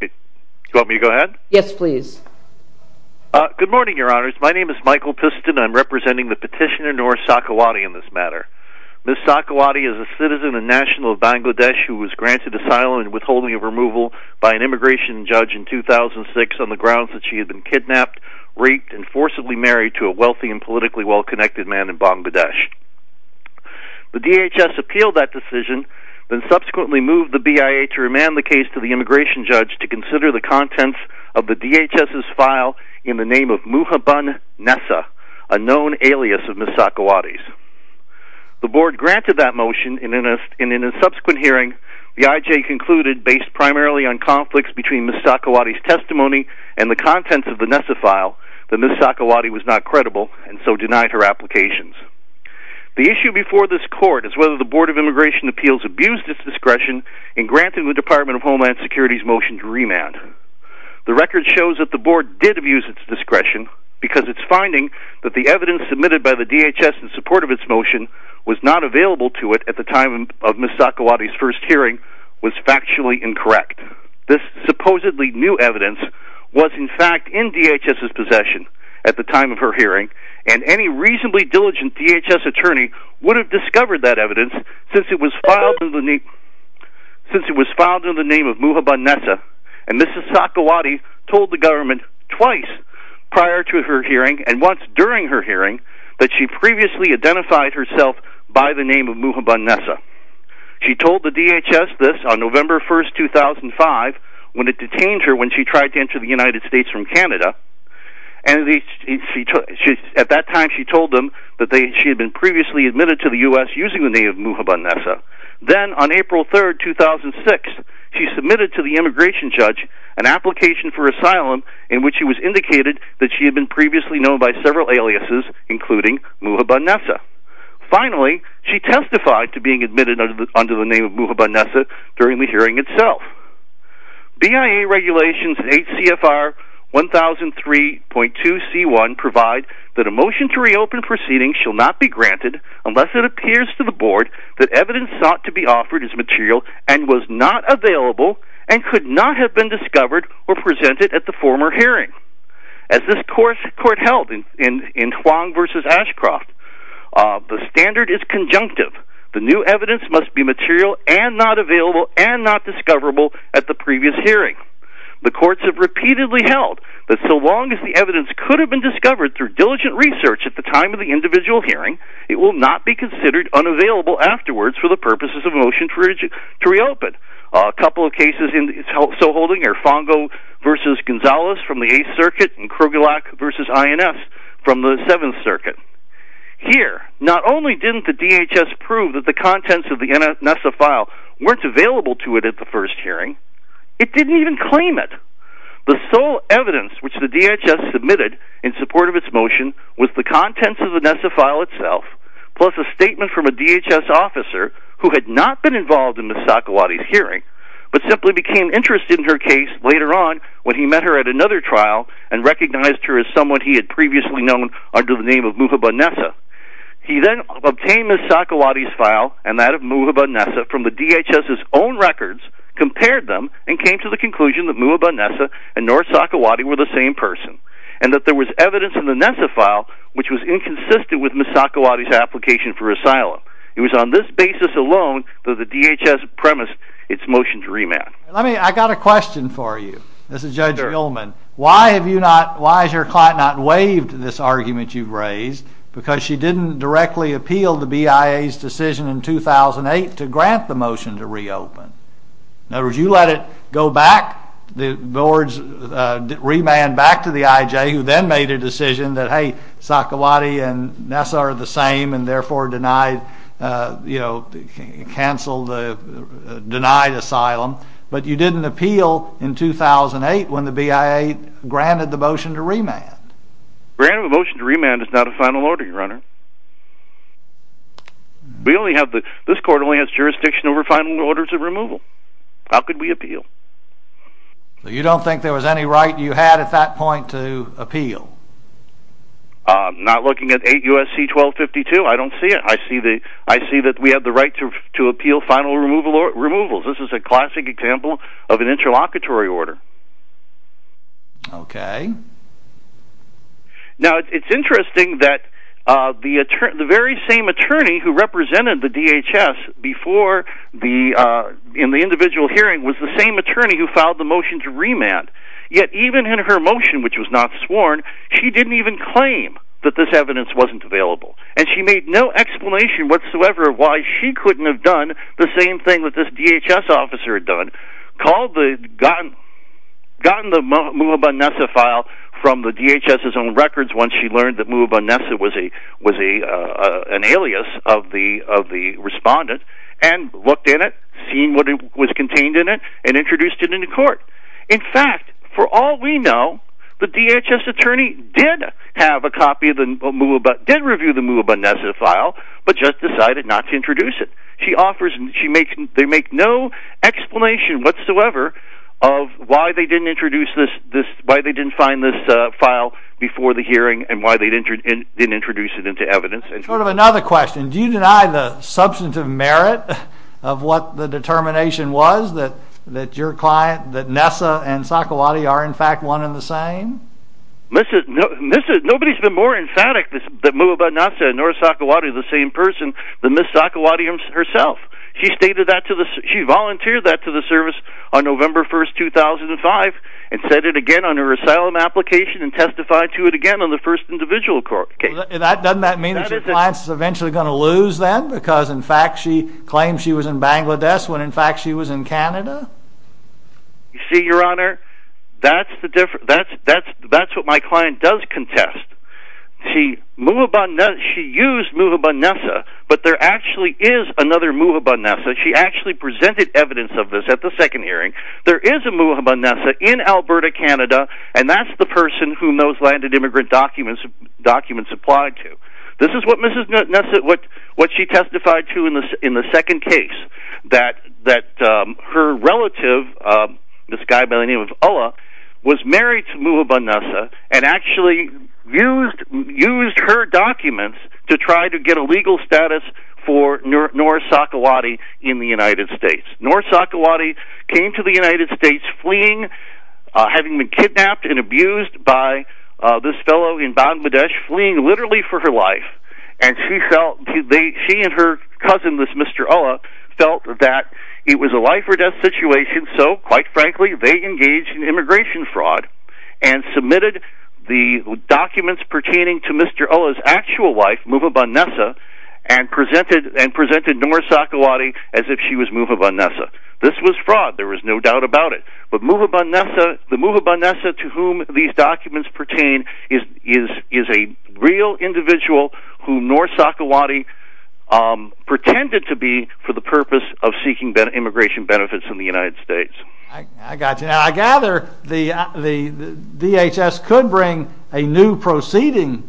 Good morning, Your Honors. My name is Michael Piston, and I am representing the petitioner Nora Sakhawati in this matter. Ms. Sakhawati is a citizen and national of Bangladesh who was granted asylum and withholding of removal by an immigration judge in 2006 on the grounds that she had been kidnapped, raped, and forcibly married to a wealthy and politically well-connected man in Bangladesh. The DHS appealed that decision, then subsequently moved the BIA to remand the case to the immigration judge to consider the contents of the DHS's file in the name of Muhabban Nessa, a known alias of Ms. Sakhawati's. The Board granted that motion, and in a subsequent hearing, the IJ concluded, based primarily on conflicts between Ms. Sakhawati's testimony and the contents of the Nessa file, that Ms. Sakhawati was not credible, and so denied her applications. The issue before this Court is whether the Board of Immigration Appeals abused its discretion in granting the Department of Homeland Security's motion to remand. The record shows that the Board did abuse its discretion because its finding that the evidence submitted by the DHS in support of its motion was not available to it at the time of Ms. Sakhawati's first hearing was factually incorrect. This supposedly new evidence was, in fact, in DHS's possession at the time of her hearing, and any reasonably diligent DHS attorney would have discovered that evidence since it was filed in the name of Muhabban Nessa, and Ms. Sakhawati told the government twice prior to her hearing and once during her hearing that she previously identified herself by the name of Muhabban Nessa. She told the DHS this on November 1, 2005, when it detained her when she tried to enter the United States from Canada, and at that time she told them that she had been previously admitted to the U.S. using the name of Muhabban Nessa. Then, on April 3, 2006, she submitted to the immigration judge an application for asylum in which it was indicated that she had been previously known by several aliases, including Muhabban Nessa. Finally, she testified to being admitted under the name of Muhabban Nessa during the hearing itself. BIA regulations in HCFR 1003.2 C.1 provide that a motion to reopen proceedings shall not be granted unless it appears to the board that evidence sought to be offered as material and was not available and could not have been discovered or presented at the former hearing. As this court held in Huang v. Ashcroft, the standard is conjunctive. The new evidence must be material and not available and not discoverable at the previous hearing. The courts have repeatedly held that so long as the evidence could have been discovered through diligent research at the time of the individual hearing, it will not be considered unavailable afterwards for the purposes of a motion to reopen. A couple of cases in which it's also holding are Fongo v. Gonzalez from the 8th Circuit and Krogelak v. INS from the 7th Circuit. Here, not only didn't the DHS prove that the contents of the Nessa file weren't available to it at the first hearing, it didn't even claim it. The sole evidence which the DHS submitted in support of its motion was the contents of the Nessa file itself, plus a statement from a DHS officer who had not been involved in the Sakowatties' hearing, but simply became interested in her case later on when he met her at another trial and recognized her as someone he had previously known under the name of Muhabba Nessa. He then obtained the Sakowatties' file and that DHS's own records, compared them, and came to the conclusion that Muhabba Nessa and North Sakowattie were the same person, and that there was evidence in the Nessa file which was inconsistent with Ms. Sakowattie's application for asylum. It was on this basis alone that the DHS premised its motion to remand. I've got a question for you. This is Judge Gilman. Why has your client not waived this argument you've raised? Because she didn't directly appeal the BIA's decision in 2008 to grant the motion to reopen. In other words, you let it go back, the boards remand back to the IJ, who then made a decision that, hey, Sakowattie and Nessa are the same and therefore denied, you know, canceled, denied asylum, but you didn't appeal in 2008 when the BIA granted the motion to remand. Granting the motion to remand is not a final order, Your Honor. We only have the, this court only has jurisdiction over final orders of removal. How could we appeal? You don't think there was any right you had at that point to appeal? Not looking at 8 U.S.C. 1252, I don't see it. I see that we have the right to appeal final removals. This is a classic example of an interlocutory order. Okay. Now, it's interesting that the very same attorney who represented the DHS before the, in the individual hearing, was the same attorney who filed the motion to remand, yet even in her motion, which was not sworn, she didn't even claim that this evidence wasn't available. And she made no explanation whatsoever why she couldn't have done the same thing that the DHS did. She made no explanation whatsoever from the DHS's own records once she learned that Mubunna was an alias of the respondent, and looked at it, seen what was contained in it, and introduced it into court. In fact, for all we know, the DHS attorney did have a copy of the Mubunna, did review the Mubunna file, but just decided not to introduce it. She offers, they make no explanation whatsoever of why they didn't introduce this, why they didn't find this file before the hearing, and why they didn't introduce it into evidence. And sort of another question, do you deny the substantive merit of what the determination was that your client, that Nessa and Sakowati are in fact one and the same? Nobody's been more emphatic that Mubunna said, nor Sakowati, the same person, than Ms. Sakowati herself. She stated that to the, she volunteered that to the service on November 1st, 2005, and said it again on her asylum application, and testified to it again on the first individual court case. Doesn't that mean that your client's eventually going to lose then, because in fact she claimed she was in Bangladesh, when in fact she was in Canada? You see, your honor, that's what my client does contest. She used Mubunna, but there actually is another Mubunna. She actually presented evidence of this at the second hearing. There is a Mubunna in Alberta, Canada, and that's the person whom those landed immigrant documents applied to. This is what she testified to in the second case, that her relative, this guy by the name of Ola, was married to Mubunna, and actually used her documents to try to get a legal status for Nora Sakowati in the United States. Nora Sakowati came to the United States fleeing, having been kidnapped and abused by this fellow in Bangladesh, fleeing literally for her life, and she and her cousin, this Mr. Ola, felt that it was a life or death situation, so quite frankly they engaged in immigration fraud and submitted the documents pertaining to Mr. Ola's actual wife, Mubunna, and presented Nora Sakowati as if she was Mubunna. This was fraud, there is no doubt about it, but Mubunna, the Mubunna to whom these documents pertain is a real individual who Nora Sakowati pretended to be for the purpose of seeking immigration benefits in the United States. I gather the DHS could bring a new proceeding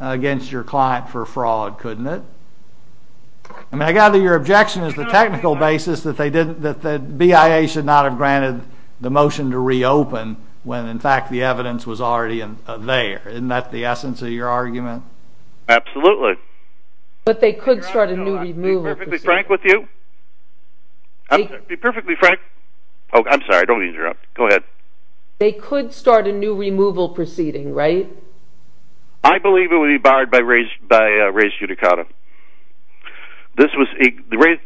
against your client for fraud, couldn't it? I mean, I gather your objection is the technical basis that the BIA should not have granted the motion to reopen when in fact the evidence was already there. Isn't that the essence of your argument? Absolutely. But they could start a new removal proceeding. Be perfectly frank with you. Be perfectly frank. Oh, I'm sorry, don't want to interrupt. Go ahead. They could start a new removal proceeding, right? I believe it would be barred by race judicata. The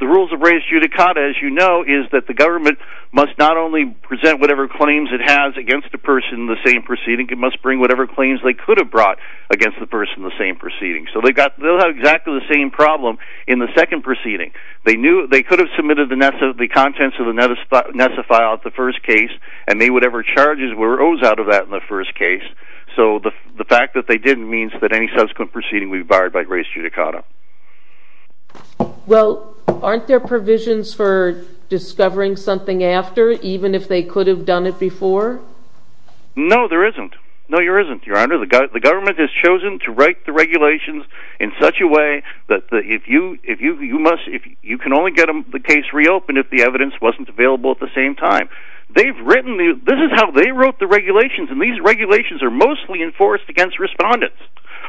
rules of race judicata, as you know, is that the government must not only present whatever claims it has against a person in the same proceeding, it must bring whatever claims they could have brought against the person in the same proceeding. So they'll have exactly the same problem in the second proceeding. They knew they could have submitted the contents of the Nessa file in the first case. So the fact that they didn't means that any subsequent proceeding would be barred by race judicata. Well, aren't there provisions for discovering something after, even if they could have done it before? No, there isn't. No, there isn't, Your Honor. The government has chosen to write the regulations in such a way that you can only get the case reopened if the evidence wasn't available at the same time. This is how they wrote the regulations, and these regulations are mostly enforced against respondents.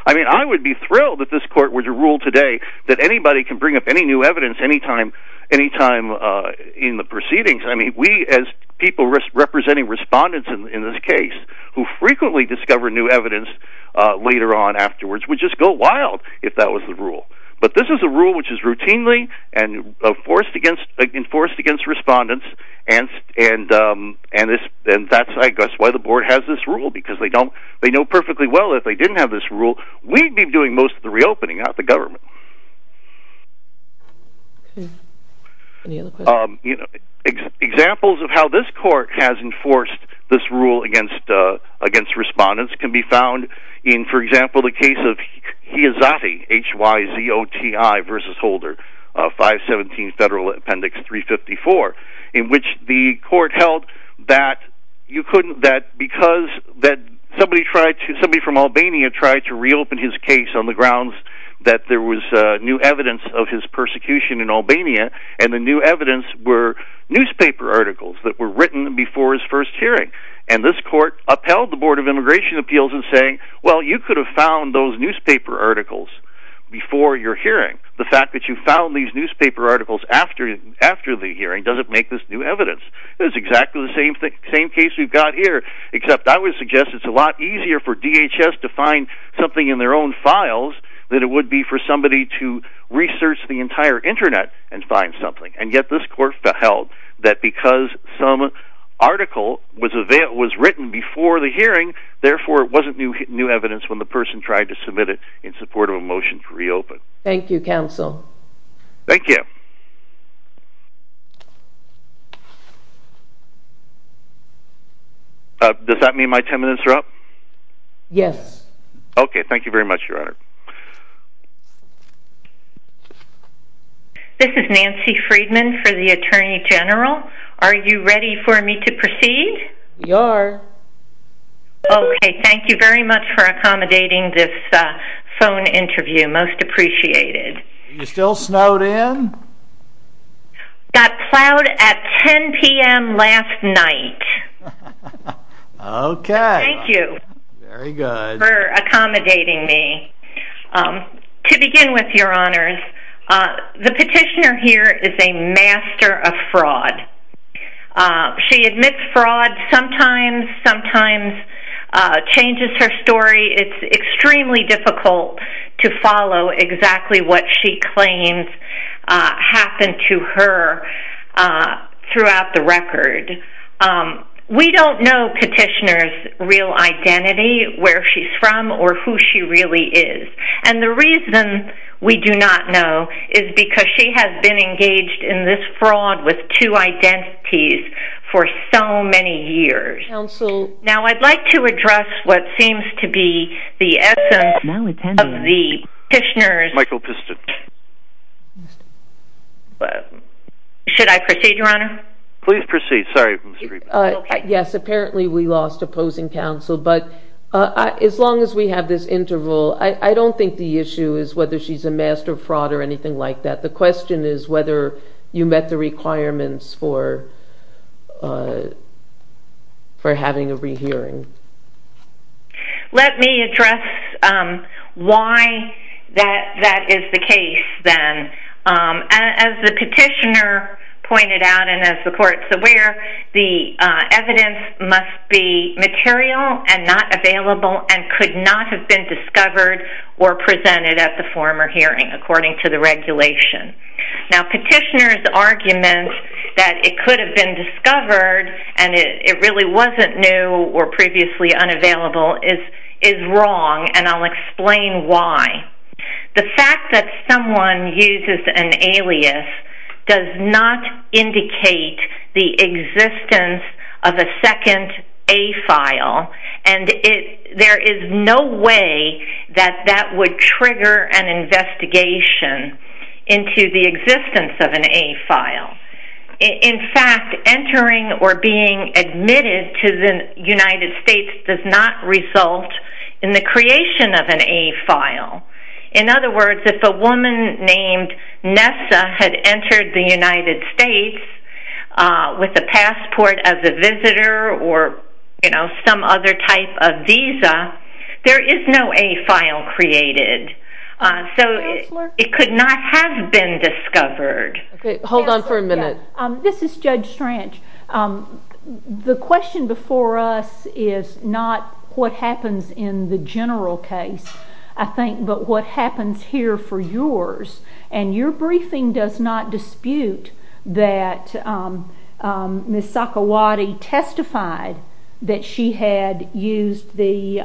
I mean, I would be thrilled if this court were to rule today that anybody can bring up any new evidence any time in the proceedings. I mean, we as people representing respondents in this case who frequently discover new evidence later on afterwards would just go wild if that was the rule. But this is a rule which is routinely enforced against respondents, and that's why the board has this rule, because they know perfectly well if they didn't have this rule, we'd be doing most of the reopening of the government. Examples of how this court has enforced this rule against respondents can be found in, for example, the case of Hiazati, H-Y-Z-O-T-I versus Holder, 517 Federal Appendix 354, in which the court held that because somebody from Albania tried to reopen his case on the grounds that there was new evidence of his persecution in Albania, and the new evidence were newspaper articles that were written before his first hearing. And this court upheld the Board of Immigration Appeals in saying, well, you could have found those newspaper articles before your hearing. The fact that you found these newspaper articles after the hearing doesn't make this new evidence. It's exactly the same case we've got here, except I would suggest it's a lot easier for DHS to find something in their own files than it would be for somebody to research the entire Internet and find something. And yet this court held that because some article was written before the hearing, therefore it wasn't new evidence when the person tried to submit it in support of a motion to reopen. Thank you, counsel. Thank you. Does that mean my 10 minutes are up? Yes. Okay, thank you very much, Your Honor. This is Nancy Friedman for the Attorney General. Are you ready for me to proceed? We are. Okay, thank you very much for accommodating this phone interview. Most appreciated. Are you still snowed in? Got plowed at 10 p.m. last night. Okay. Thank you. Very good. Thank you for accommodating me. To begin with, Your Honors, the petitioner here is a master of fraud. She admits fraud sometimes, sometimes changes her story. It's extremely difficult to follow exactly what she claims happened to her throughout the record. We don't know where she's from or who she really is. And the reason we do not know is because she has been engaged in this fraud with two identities for so many years. Counsel. Now, I'd like to address what seems to be the essence of the petitioner's... Michael Piston. Should I proceed, Your Honor? Please proceed. Sorry, Ms. Friedman. Yes, apparently we lost opposing counsel, but as long as we have this interval, I don't think the issue is whether she's a master of fraud or anything like that. The question is whether you met the requirements for having a rehearing. Let me address why that is the case, then. As the petitioner pointed out, and as the petitioner pointed out, evidence must be material and not available and could not have been discovered or presented at the former hearing according to the regulation. Now, petitioner's argument that it could have been discovered and it really wasn't new or previously unavailable is wrong, and I'll explain why. The fact that someone uses an alias does not indicate the existence of a second A-file, and there is no way that that would trigger an investigation into the existence of an A-file. In fact, entering or being admitted to the United States does not result in the creation of an A-file. In other words, if a woman named Nessa had a passport as a visitor or some other type of visa, there is no A-file created, so it could not have been discovered. Hold on for a minute. This is Judge Stranch. The question before us is not what happens in the general case, I think, but what happens here for yours, and your briefing does not dispute that Ms. Sakowati testified that she had used the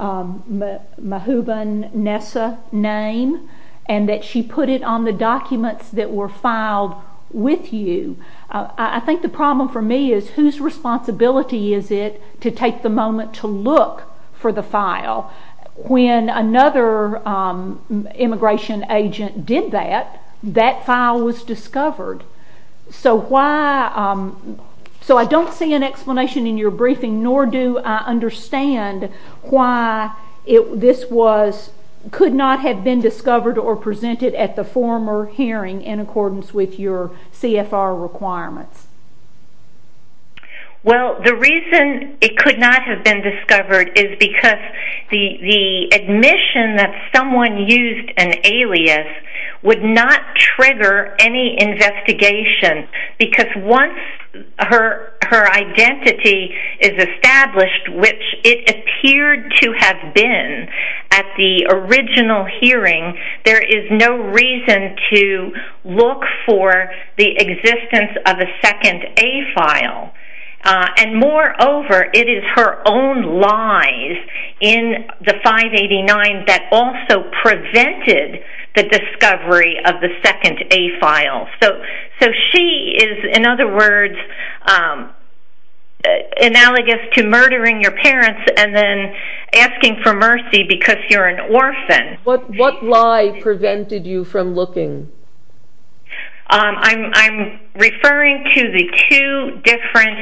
Mahooban Nessa name and that she put it on the documents that were filed with you. I think the problem for me is whose responsibility is it to take the moment to look for the file? When another immigration agent did that, that file was discovered. So I don't see an explanation in your briefing, nor do I understand why this could not have been discovered or presented at the former hearing in accordance with your CFR requirements. Well, the reason it could not have been discovered is because the admission that someone used an alias would not trigger any investigation, because once her identity is established, which it appeared to have been at the original hearing, there is no reason to look for the second A file. And moreover, it is her own lies in the 589 that also prevented the discovery of the second A file. So she is, in other words, analogous to murdering your parents and then asking for mercy because you're an orphan. What lie prevented you from looking? I'm referring to the two different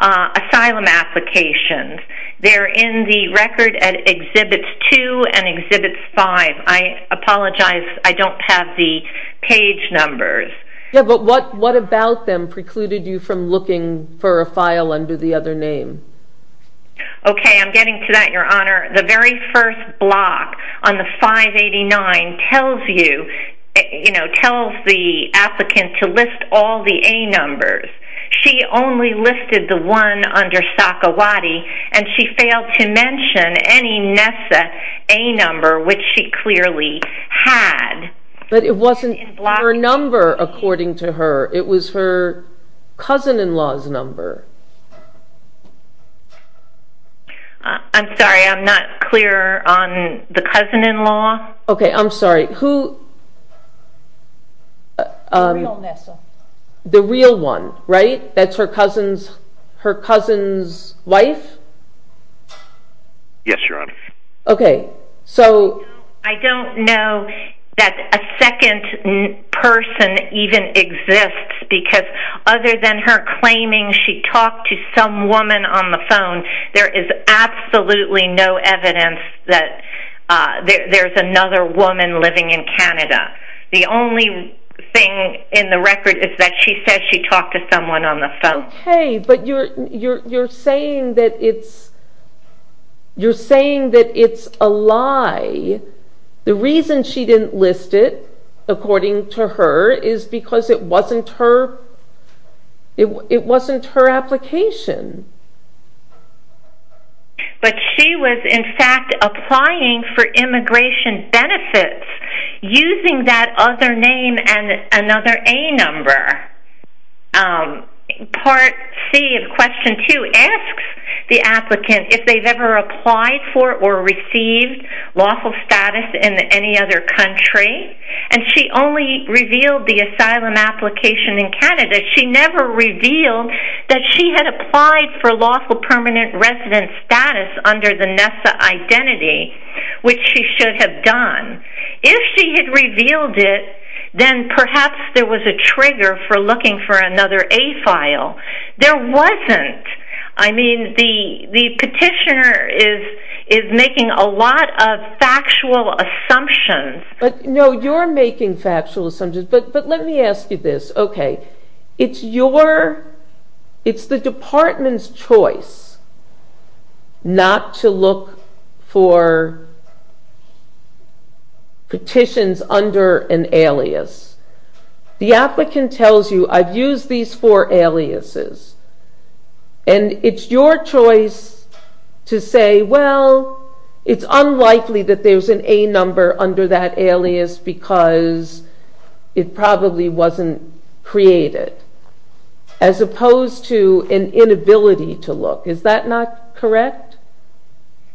asylum applications. They're in the record at Exhibits 2 and Exhibits 5. I apologize, I don't have the page numbers. Yeah, but what about them precluded you from looking for a file under the other name? Okay, I'm getting to that, Your Honor. The very first block on the 589 tells you, you know, tells the applicant to list all the A numbers. She only listed the one under Sakhawati and she failed to mention any NESA A number, which she clearly had. But it wasn't her number, according to her, it was her cousin-in-law's number. I'm sorry, I'm not clear on the cousin-in-law. Okay, I'm sorry, who... The real NESA. The real one, right? That's her cousin's wife? Yes, Your Honor. Okay, so... I don't know that a second person even exists because other than her claiming she talked to some woman on the phone, there is absolutely no evidence that there's another woman living in Canada. The only thing in the record is that she says she talked to someone on the phone. Okay, but you're saying that it's, you're saying that it's a lie. The reason she didn't list it, according to her, is because it wasn't her, it wasn't her application. But she was, in fact, applying for immigration benefits using that other name and another A number. Part C of question 2 asks the applicant if they've ever applied for or received lawful status in any other country, and she only revealed the asylum application in Canada. She never revealed that she had applied for lawful permanent resident status under the NESA identity, which she should have done. If she had revealed it, then perhaps there was a trigger for looking for another A file. There wasn't. I mean, the petitioner is making a lot of factual assumptions. But, no, you're making factual assumptions, but let me ask you this. Okay, it's your, it's the department's choice not to look for petitions under an alias. The applicant tells you, I've used these four aliases, and it's your choice to say, well, it's unlikely that there's an A number under that alias because it probably wasn't created, as opposed to an inability to look. Is that not correct?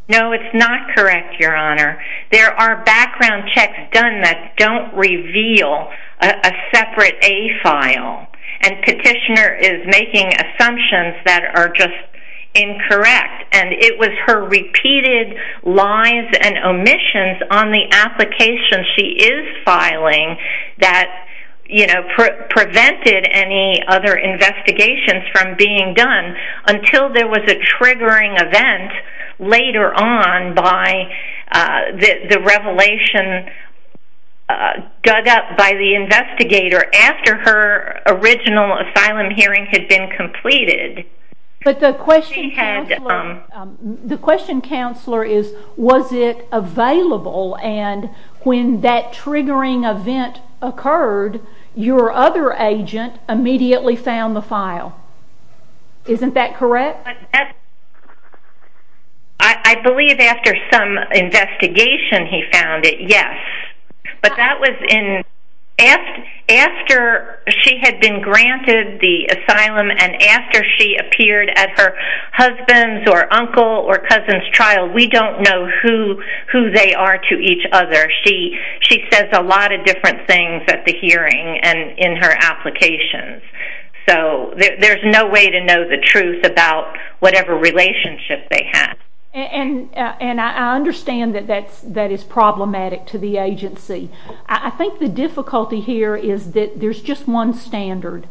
No, it's not correct, Your Honor. There are background checks done that don't reveal a separate A file, and petitioner is making assumptions that are just incorrect, and it was her repeated lies and omissions on the application she is filing that, you know, prevented any other investigations from being done until there was a triggering event later on by the revelation dug up by the investigator after her original asylum hearing had been completed. But the question counselor is, was it available, and when that triggering event occurred, your other agent immediately found the file. Isn't that correct? I believe after some investigation he found it, yes. But that was in, after she had been granted the asylum and after she appeared at her husband's or uncle's or cousin's trial, we don't know who they are to each other. She says a lot of different things at the hearing and in her applications. So there's no way to know the truth about whatever relationship they had. And I understand that that is problematic to the agency. I think the difficulty here is that there's just one standard,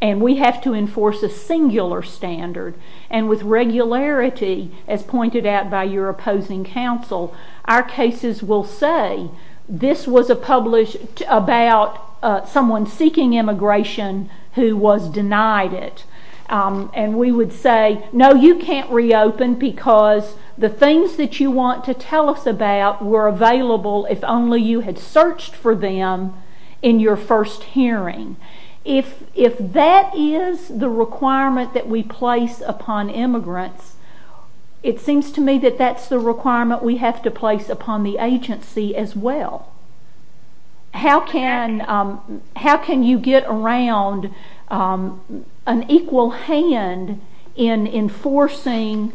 and we have to enforce a singular standard, and with regularity, as pointed out by your opposing counsel, our cases will say this was published about someone seeking immigration who was denied it. And we would say, no, you can't reopen because the things that you want to tell us about were available if only you had searched for them in your first hearing. If that is the requirement that we place upon immigrants, it seems to me that that's the requirement we have to place upon the agency as well. How can you get around an equal hand in enforcing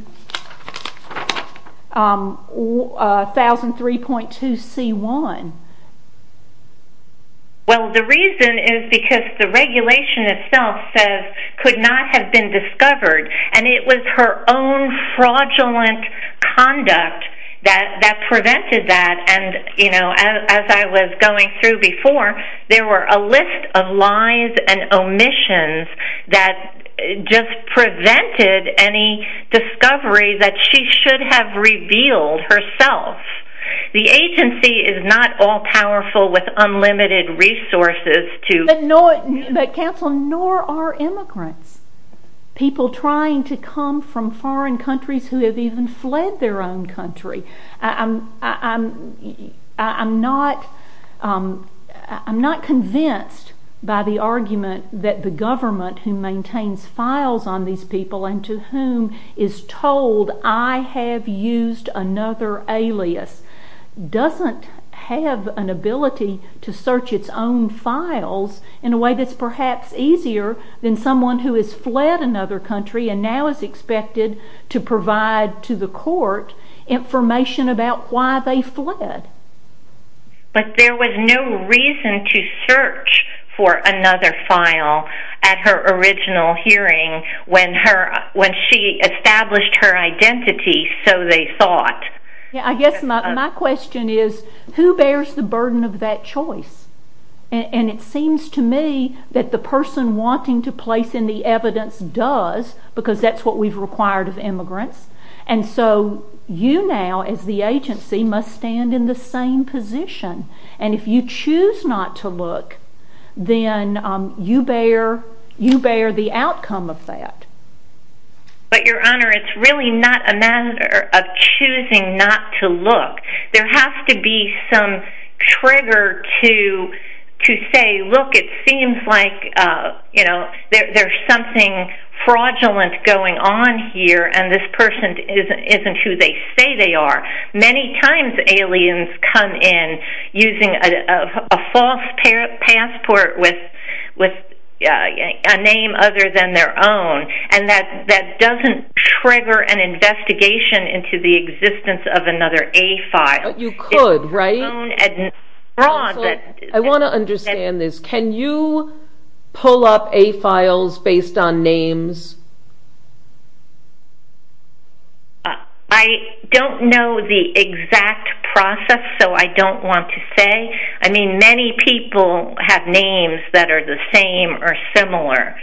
1003.2c1? Well, the reason is because the regulation itself says could not have been discovered, and it was her own fraudulent conduct that prevented that. And as I was going through before, there were a list of lies and omissions that just prevented any discovery that she should have revealed herself. The agency is not all powerful with unlimited resources to... But counsel, nor are immigrants people trying to come from foreign countries who have even fled their own country. I'm not convinced by the argument that the government who maintains files on these people and to whom is told, I have used another alias, doesn't have an ability to search its own files in a way that's perhaps easier than someone who has fled another country and now is expected to provide to the court information about why they fled. But there was no reason to search for another file at her original hearing when she established her identity, so they thought. I guess my question is, who bears the burden of that choice? And it seems to me that the person wanting to place in the evidence does, because that's what we've required of immigrants. And so you now, as the agency, must stand in the same position. And if you choose not to look, then you bear the outcome of that. But Your Honor, it's really not a matter of choosing not to look. There has to be some trigger to say, look, it seems like there's something fraudulent going on here and this person isn't who they say they are. Many times aliens come in using a false passport with a name other than their own, and that doesn't trigger an investigation into the existence of another A-file. You could, right? I want to understand this. Can you pull up A-files based on names? I don't know the exact process, so I don't want to say. I mean, many people have names that are the same or similar,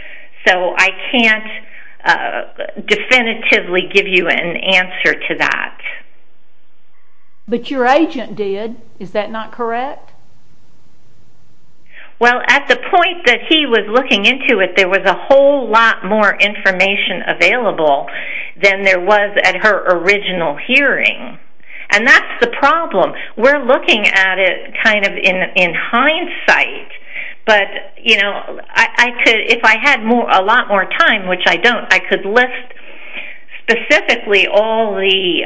so I can't definitively give you an answer to that. But your agent did. Is that not correct? Well, at the point that he was looking into it, there was a whole lot more information available than there was at her original hearing. And that's the problem. We're looking at it kind of in hindsight, but, you know, if I had a lot more time, which I don't, I could list specifically all the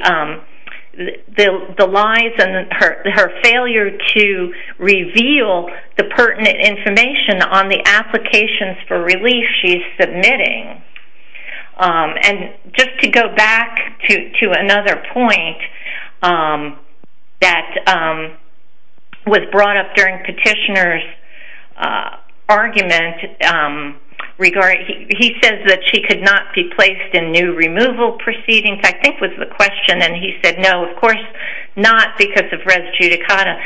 lies and her failure to reveal the pertinent information on the applications for relief she's submitting. And just to go back to another point that was brought up during Petitioner's argument, he says that she could not be placed in new removal proceedings, I think was the question, and he said, no, of course not, because of res judicata.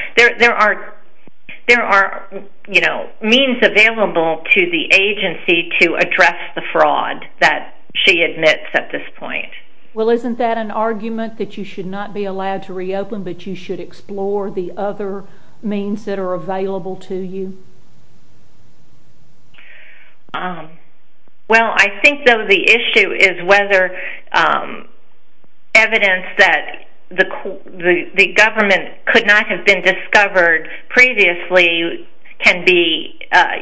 There are, you know, means available to the agency to address the fraud that she admits at this point. Well, isn't that an argument that you should not be allowed to reopen, but you should explore the other means that are available to you? Well, I think, though, the issue is whether evidence that the government could not have been discovered previously can be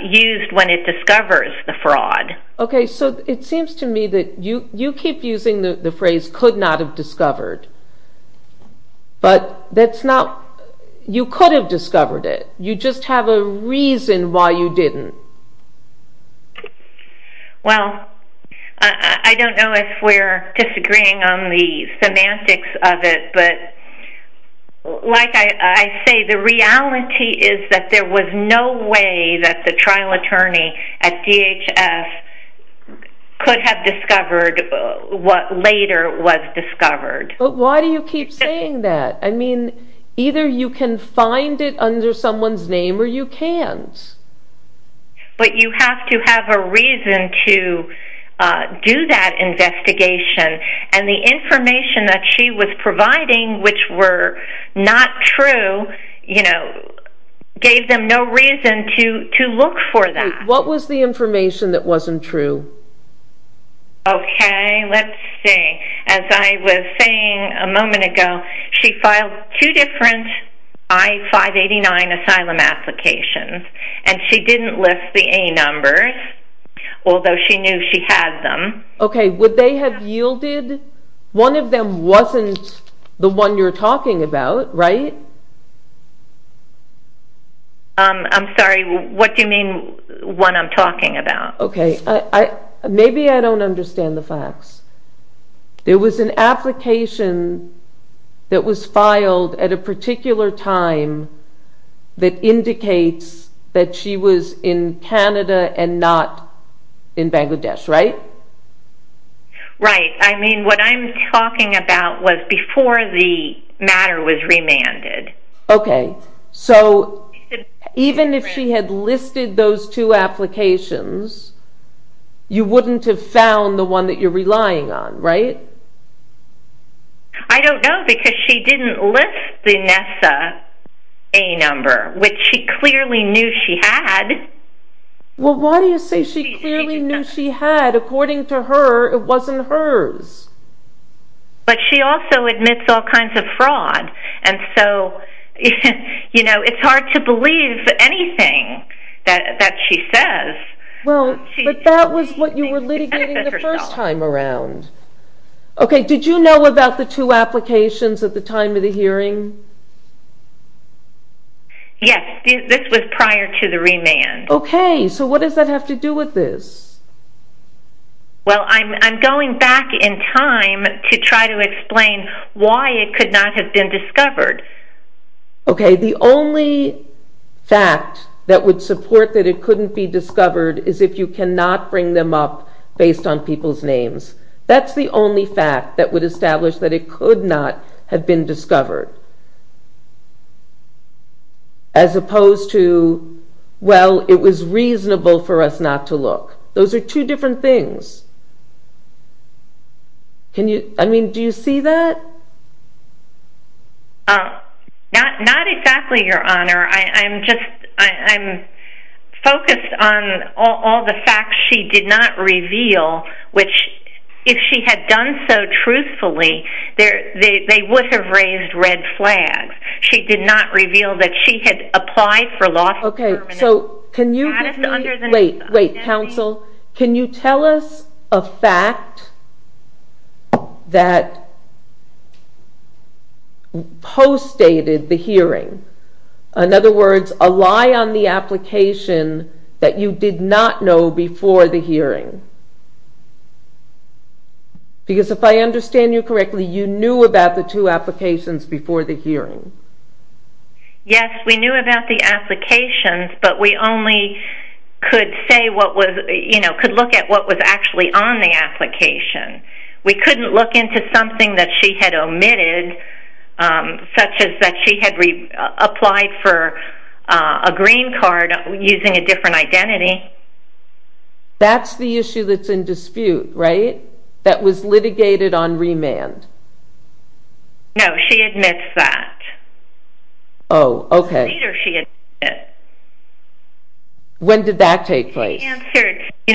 used when it discovers the fraud. Okay, so it seems to me that you keep using the phrase could not have discovered, but that's not, you could have discovered it. You just have a reason why you didn't. Well, I don't know if we're disagreeing on the semantics of it, but like I say, the reality is that there was no way that the trial attorney at DHS could have discovered what later was discovered. But why do you keep saying that? I mean, either you can find it under someone's name or you can't. But you have to have a reason to do that investigation, and the information that she was providing, which were not true, you know, gave them no reason to look for that. What was the information that wasn't true? Okay, let's see. As I was saying a moment ago, she filed two different I-589 asylum applications, and she didn't list the A numbers, although she knew she had them. Okay, would they have yielded? One of them wasn't the one you're talking about, right? I'm sorry, what do you mean, one I'm talking about? Okay, maybe I don't understand the facts. There was an application that was filed at a particular time that indicates that she was in Canada and not in Bangladesh, right? Right. I mean, what I'm talking about was before the matter was remanded. Okay, so even if she had listed those two applications, you wouldn't have found the one that you're relying on, right? I don't know, because she didn't list the NESA A number, which she clearly knew she had. Well, why do you say she clearly knew she had? According to her, it wasn't hers. But she also admits all kinds of fraud, and so, you know, it's hard to believe anything that she says. Well, but that was what you were litigating the first time around. Okay, did you know about the two applications at the time of the hearing? Yes, this was prior to the remand. Okay, so what does that have to do with this? Well, I'm going back in time to try to explain why it could not have been discovered. Okay, the only fact that would support that it couldn't be discovered is if you cannot bring them up based on people's names. That's the only fact that would establish that it could not have been discovered. As opposed to, well, it was reasonable for us not to look. Those are two different things. Can you, I mean, do you see that? Not exactly, Your Honor. I'm just, I'm focused on all the facts she did not reveal, which if she had done so truthfully, they would have raised red flags. She did not reveal that she had applied for loss of permanent status under the... Okay, so can you just, wait, wait, counsel, can you tell us a fact that postdated the hearing? In other words, a lie on the application that you did not know before the hearing? Because if I understand you correctly, you knew about the two applications before the hearing. Yes, we knew about the applications, but we only could say what was, you know, could look at what was actually on the application. We couldn't look into something that she had omitted, such as that she had applied for a green card using a different identity. That's the issue that's in dispute, right? That was litigated on remand. No, she admits that. Oh, okay. She admitted it. When did that take place? She answered, you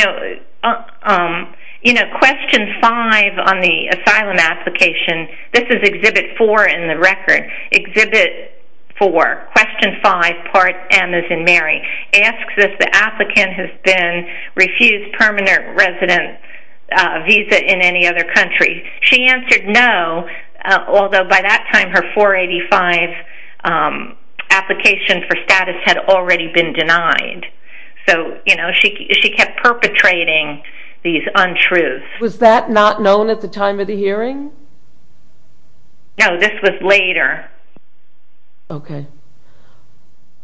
know, question five on the asylum application, this is exhibit four in the record, exhibit four, question five, part M as in Mary, asks if the applicant has been refused permanent resident visa in any other country. She answered no, although by that time her 485 application for status had already been denied. So, you know, she kept perpetrating these untruths. Was that not known at the time of the hearing? No, this was later. Okay.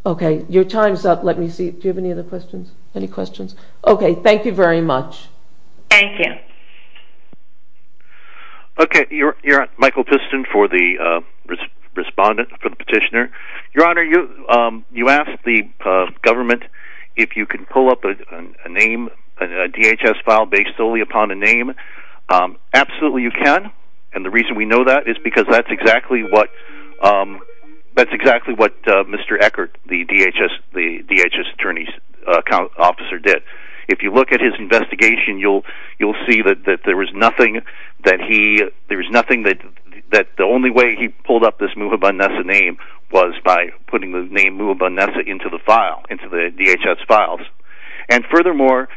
Okay, your time's up, let me see, do you have any other questions? Any questions? Okay, thank you very much. Thank you. Okay, you're on, Michael Piston for the respondent, for the petitioner. Your Honor, you asked the government if you could pull up a name, a DHS file based solely upon a name. Absolutely you can, and the reason we know that is because that's exactly what Mr. Eckert, the DHS attorney's officer, did. If you look at his investigation, you'll see that there was nothing that he, there was nothing that, the only way he pulled up this Muhabban Nessa name was by putting the name Muhabban Nessa into the file, into the DHS files. And furthermore,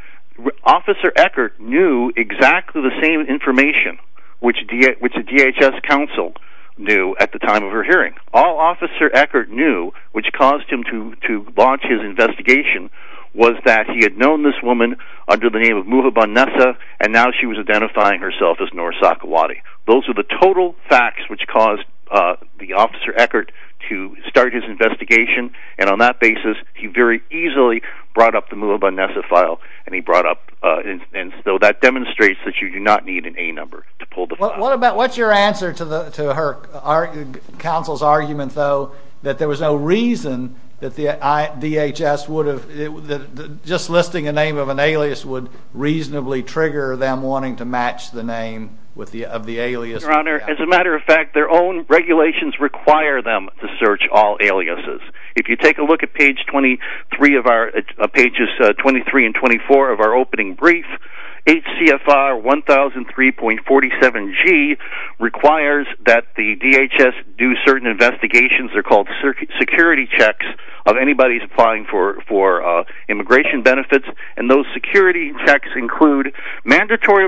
Officer Eckert knew exactly the same information which a DHS counsel knew at the time of her hearing. All Officer Eckert knew, which caused him to launch his investigation, was that he had known this woman under the name of Muhabban Nessa, and now she was identifying herself as Noor Sakwati. Those are the total facts which caused the Officer Eckert to start his investigation, and on that basis, he very easily brought up the Muhabban Nessa file, and he brought up, and so that demonstrates that you do not need an A number to pull the file. What about, what's your answer to her, counsel's argument though, that there was no reason that the DHS would have, that just listing a name of an alias would reasonably trigger them wanting to match the name of the alias? Your Honor, as a matter of fact, their own regulations require them to search all aliases. If you take a look at page 23 of our, pages 23 and 24 of our opening brief, HCFR 1003.47G requires that the DHS do certain investigations, they're called security checks, of anybody applying for immigration benefits, and those security checks include mandatory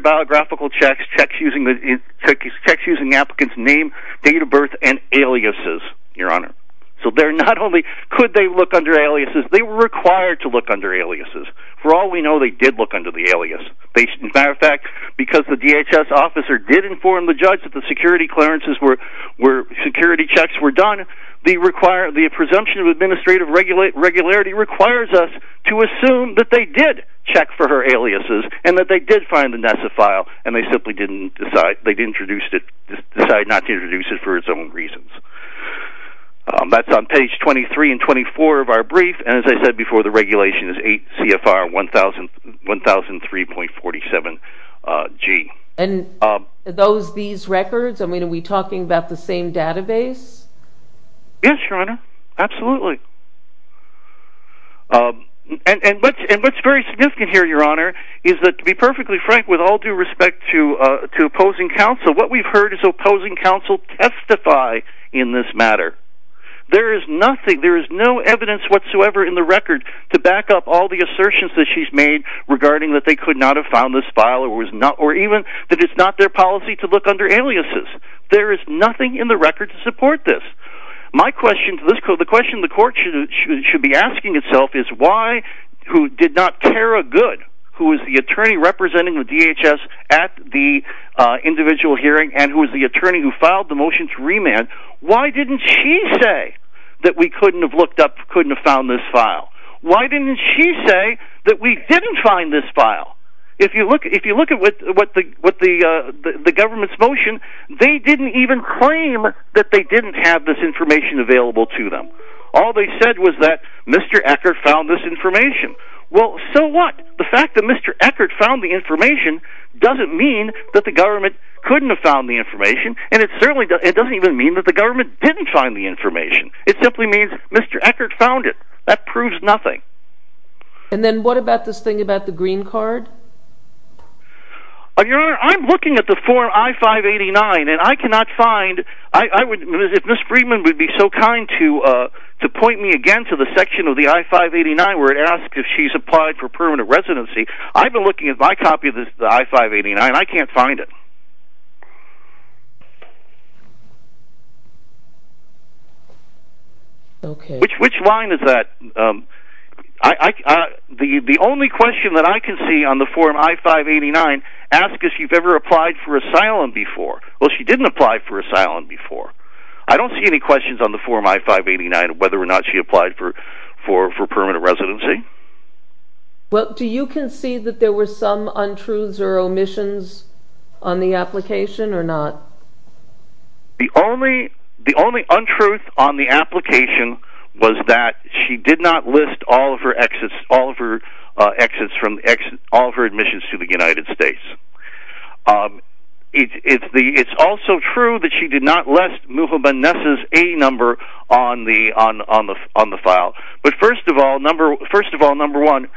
biographical checks, checks using the applicant's name, date of birth, and aliases, Your Honor. So they're not only, could they look under aliases, they were required to look under aliases. For all we know, they did look under the alias. As a matter of fact, because the DHS officer did inform the judge that the security clearances were, security checks were done, the presumption of administrative regularity requires us to assume that they did and that they did find the NESA file, and they simply didn't decide, they didn't introduce it, decide not to introduce it for its own reasons. That's on page 23 and 24 of our brief, and as I said before, the regulation is HCFR 1003.47G. And those, these records, I mean, are we talking about the same database? Yes, Your Honor, absolutely. And what's very significant here, Your Honor, is that to be perfectly frank, with all due respect to opposing counsel, what we've heard is opposing counsel testify in this matter. There is nothing, there is no evidence whatsoever in the record to back up all the assertions that she's made regarding that they could not have found this file, or even that it's not their policy to look under aliases. There is nothing in the record to support this. My question to this court, the question the court should be asking itself is why, who did not tear a good, who is the attorney representing the DHS at the individual hearing and who is the attorney who filed the motion to remand, why didn't she say that we couldn't have looked up, couldn't have found this file? Why didn't she say that we didn't find this file? If you look at what the government's motion, they didn't even claim that they didn't have this information available to them. All they said was that Mr. Eckert found this information. Well, so what? The fact that Mr. Eckert found the information doesn't mean that the government couldn't have found the information, and it doesn't even mean that the government didn't find the information. It simply means Mr. Eckert found it. That proves nothing. And then what about this thing about the green card? Your Honor, I'm looking at the form I-589 and I cannot find, I would, if Ms. Friedman would be so kind to point me again to the section of the I-589 where it asks if she's applied for permanent residency, I've been looking at my copy of the I-589 and I can't find it. Okay. Which line is that? The only question that I can see on the form I-589 asks if she's ever applied for asylum before. Well, she didn't apply for asylum before. I don't see any questions on the form I-589 whether or not she applied for permanent residency. Well, do you concede that there were some untruths or omissions on the application or not? The only untruth on the application was that she did not list all of her exits, all of her exits from, all of her admissions to the United States. It's also true that she did not list Mubin Nessa's A number on the file. But first of all, number one,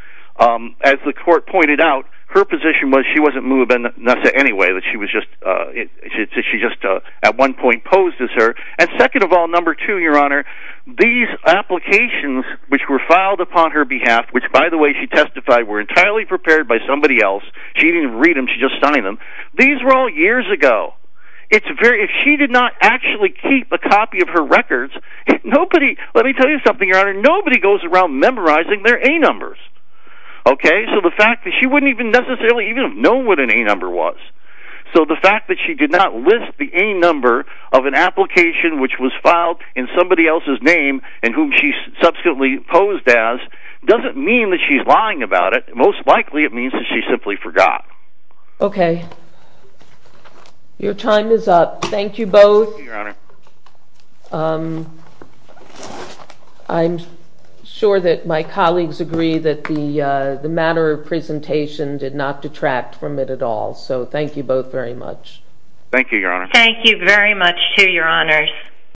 as the court pointed out, her position was she wasn't Mubin Nessa anyway, that she was just, she just at one point posed as her. And second of all, number two, Your Honor, these applications which were filed upon her behalf, which by the way she testified were entirely prepared by somebody else, she didn't read them, she just signed them, these were all years ago. It's very, if she did not actually keep a copy of her records, nobody, let me tell you something, Your Honor, nobody goes around memorizing their A numbers. Okay? So the fact that she wouldn't even necessarily even know what an A number was. So the fact that she did not list the A number of an application which was filed in somebody else's name and whom she subsequently posed as, doesn't mean that she's lying about it. Most likely it means that she simply forgot. Okay. Your time is up. Thank you both. Thank you, Your Honor. I'm sure that my colleagues agree that the matter of presentation did not detract from it at all. So thank you both very much. Thank you, Your Honor. Thank you very much too, Your Honors.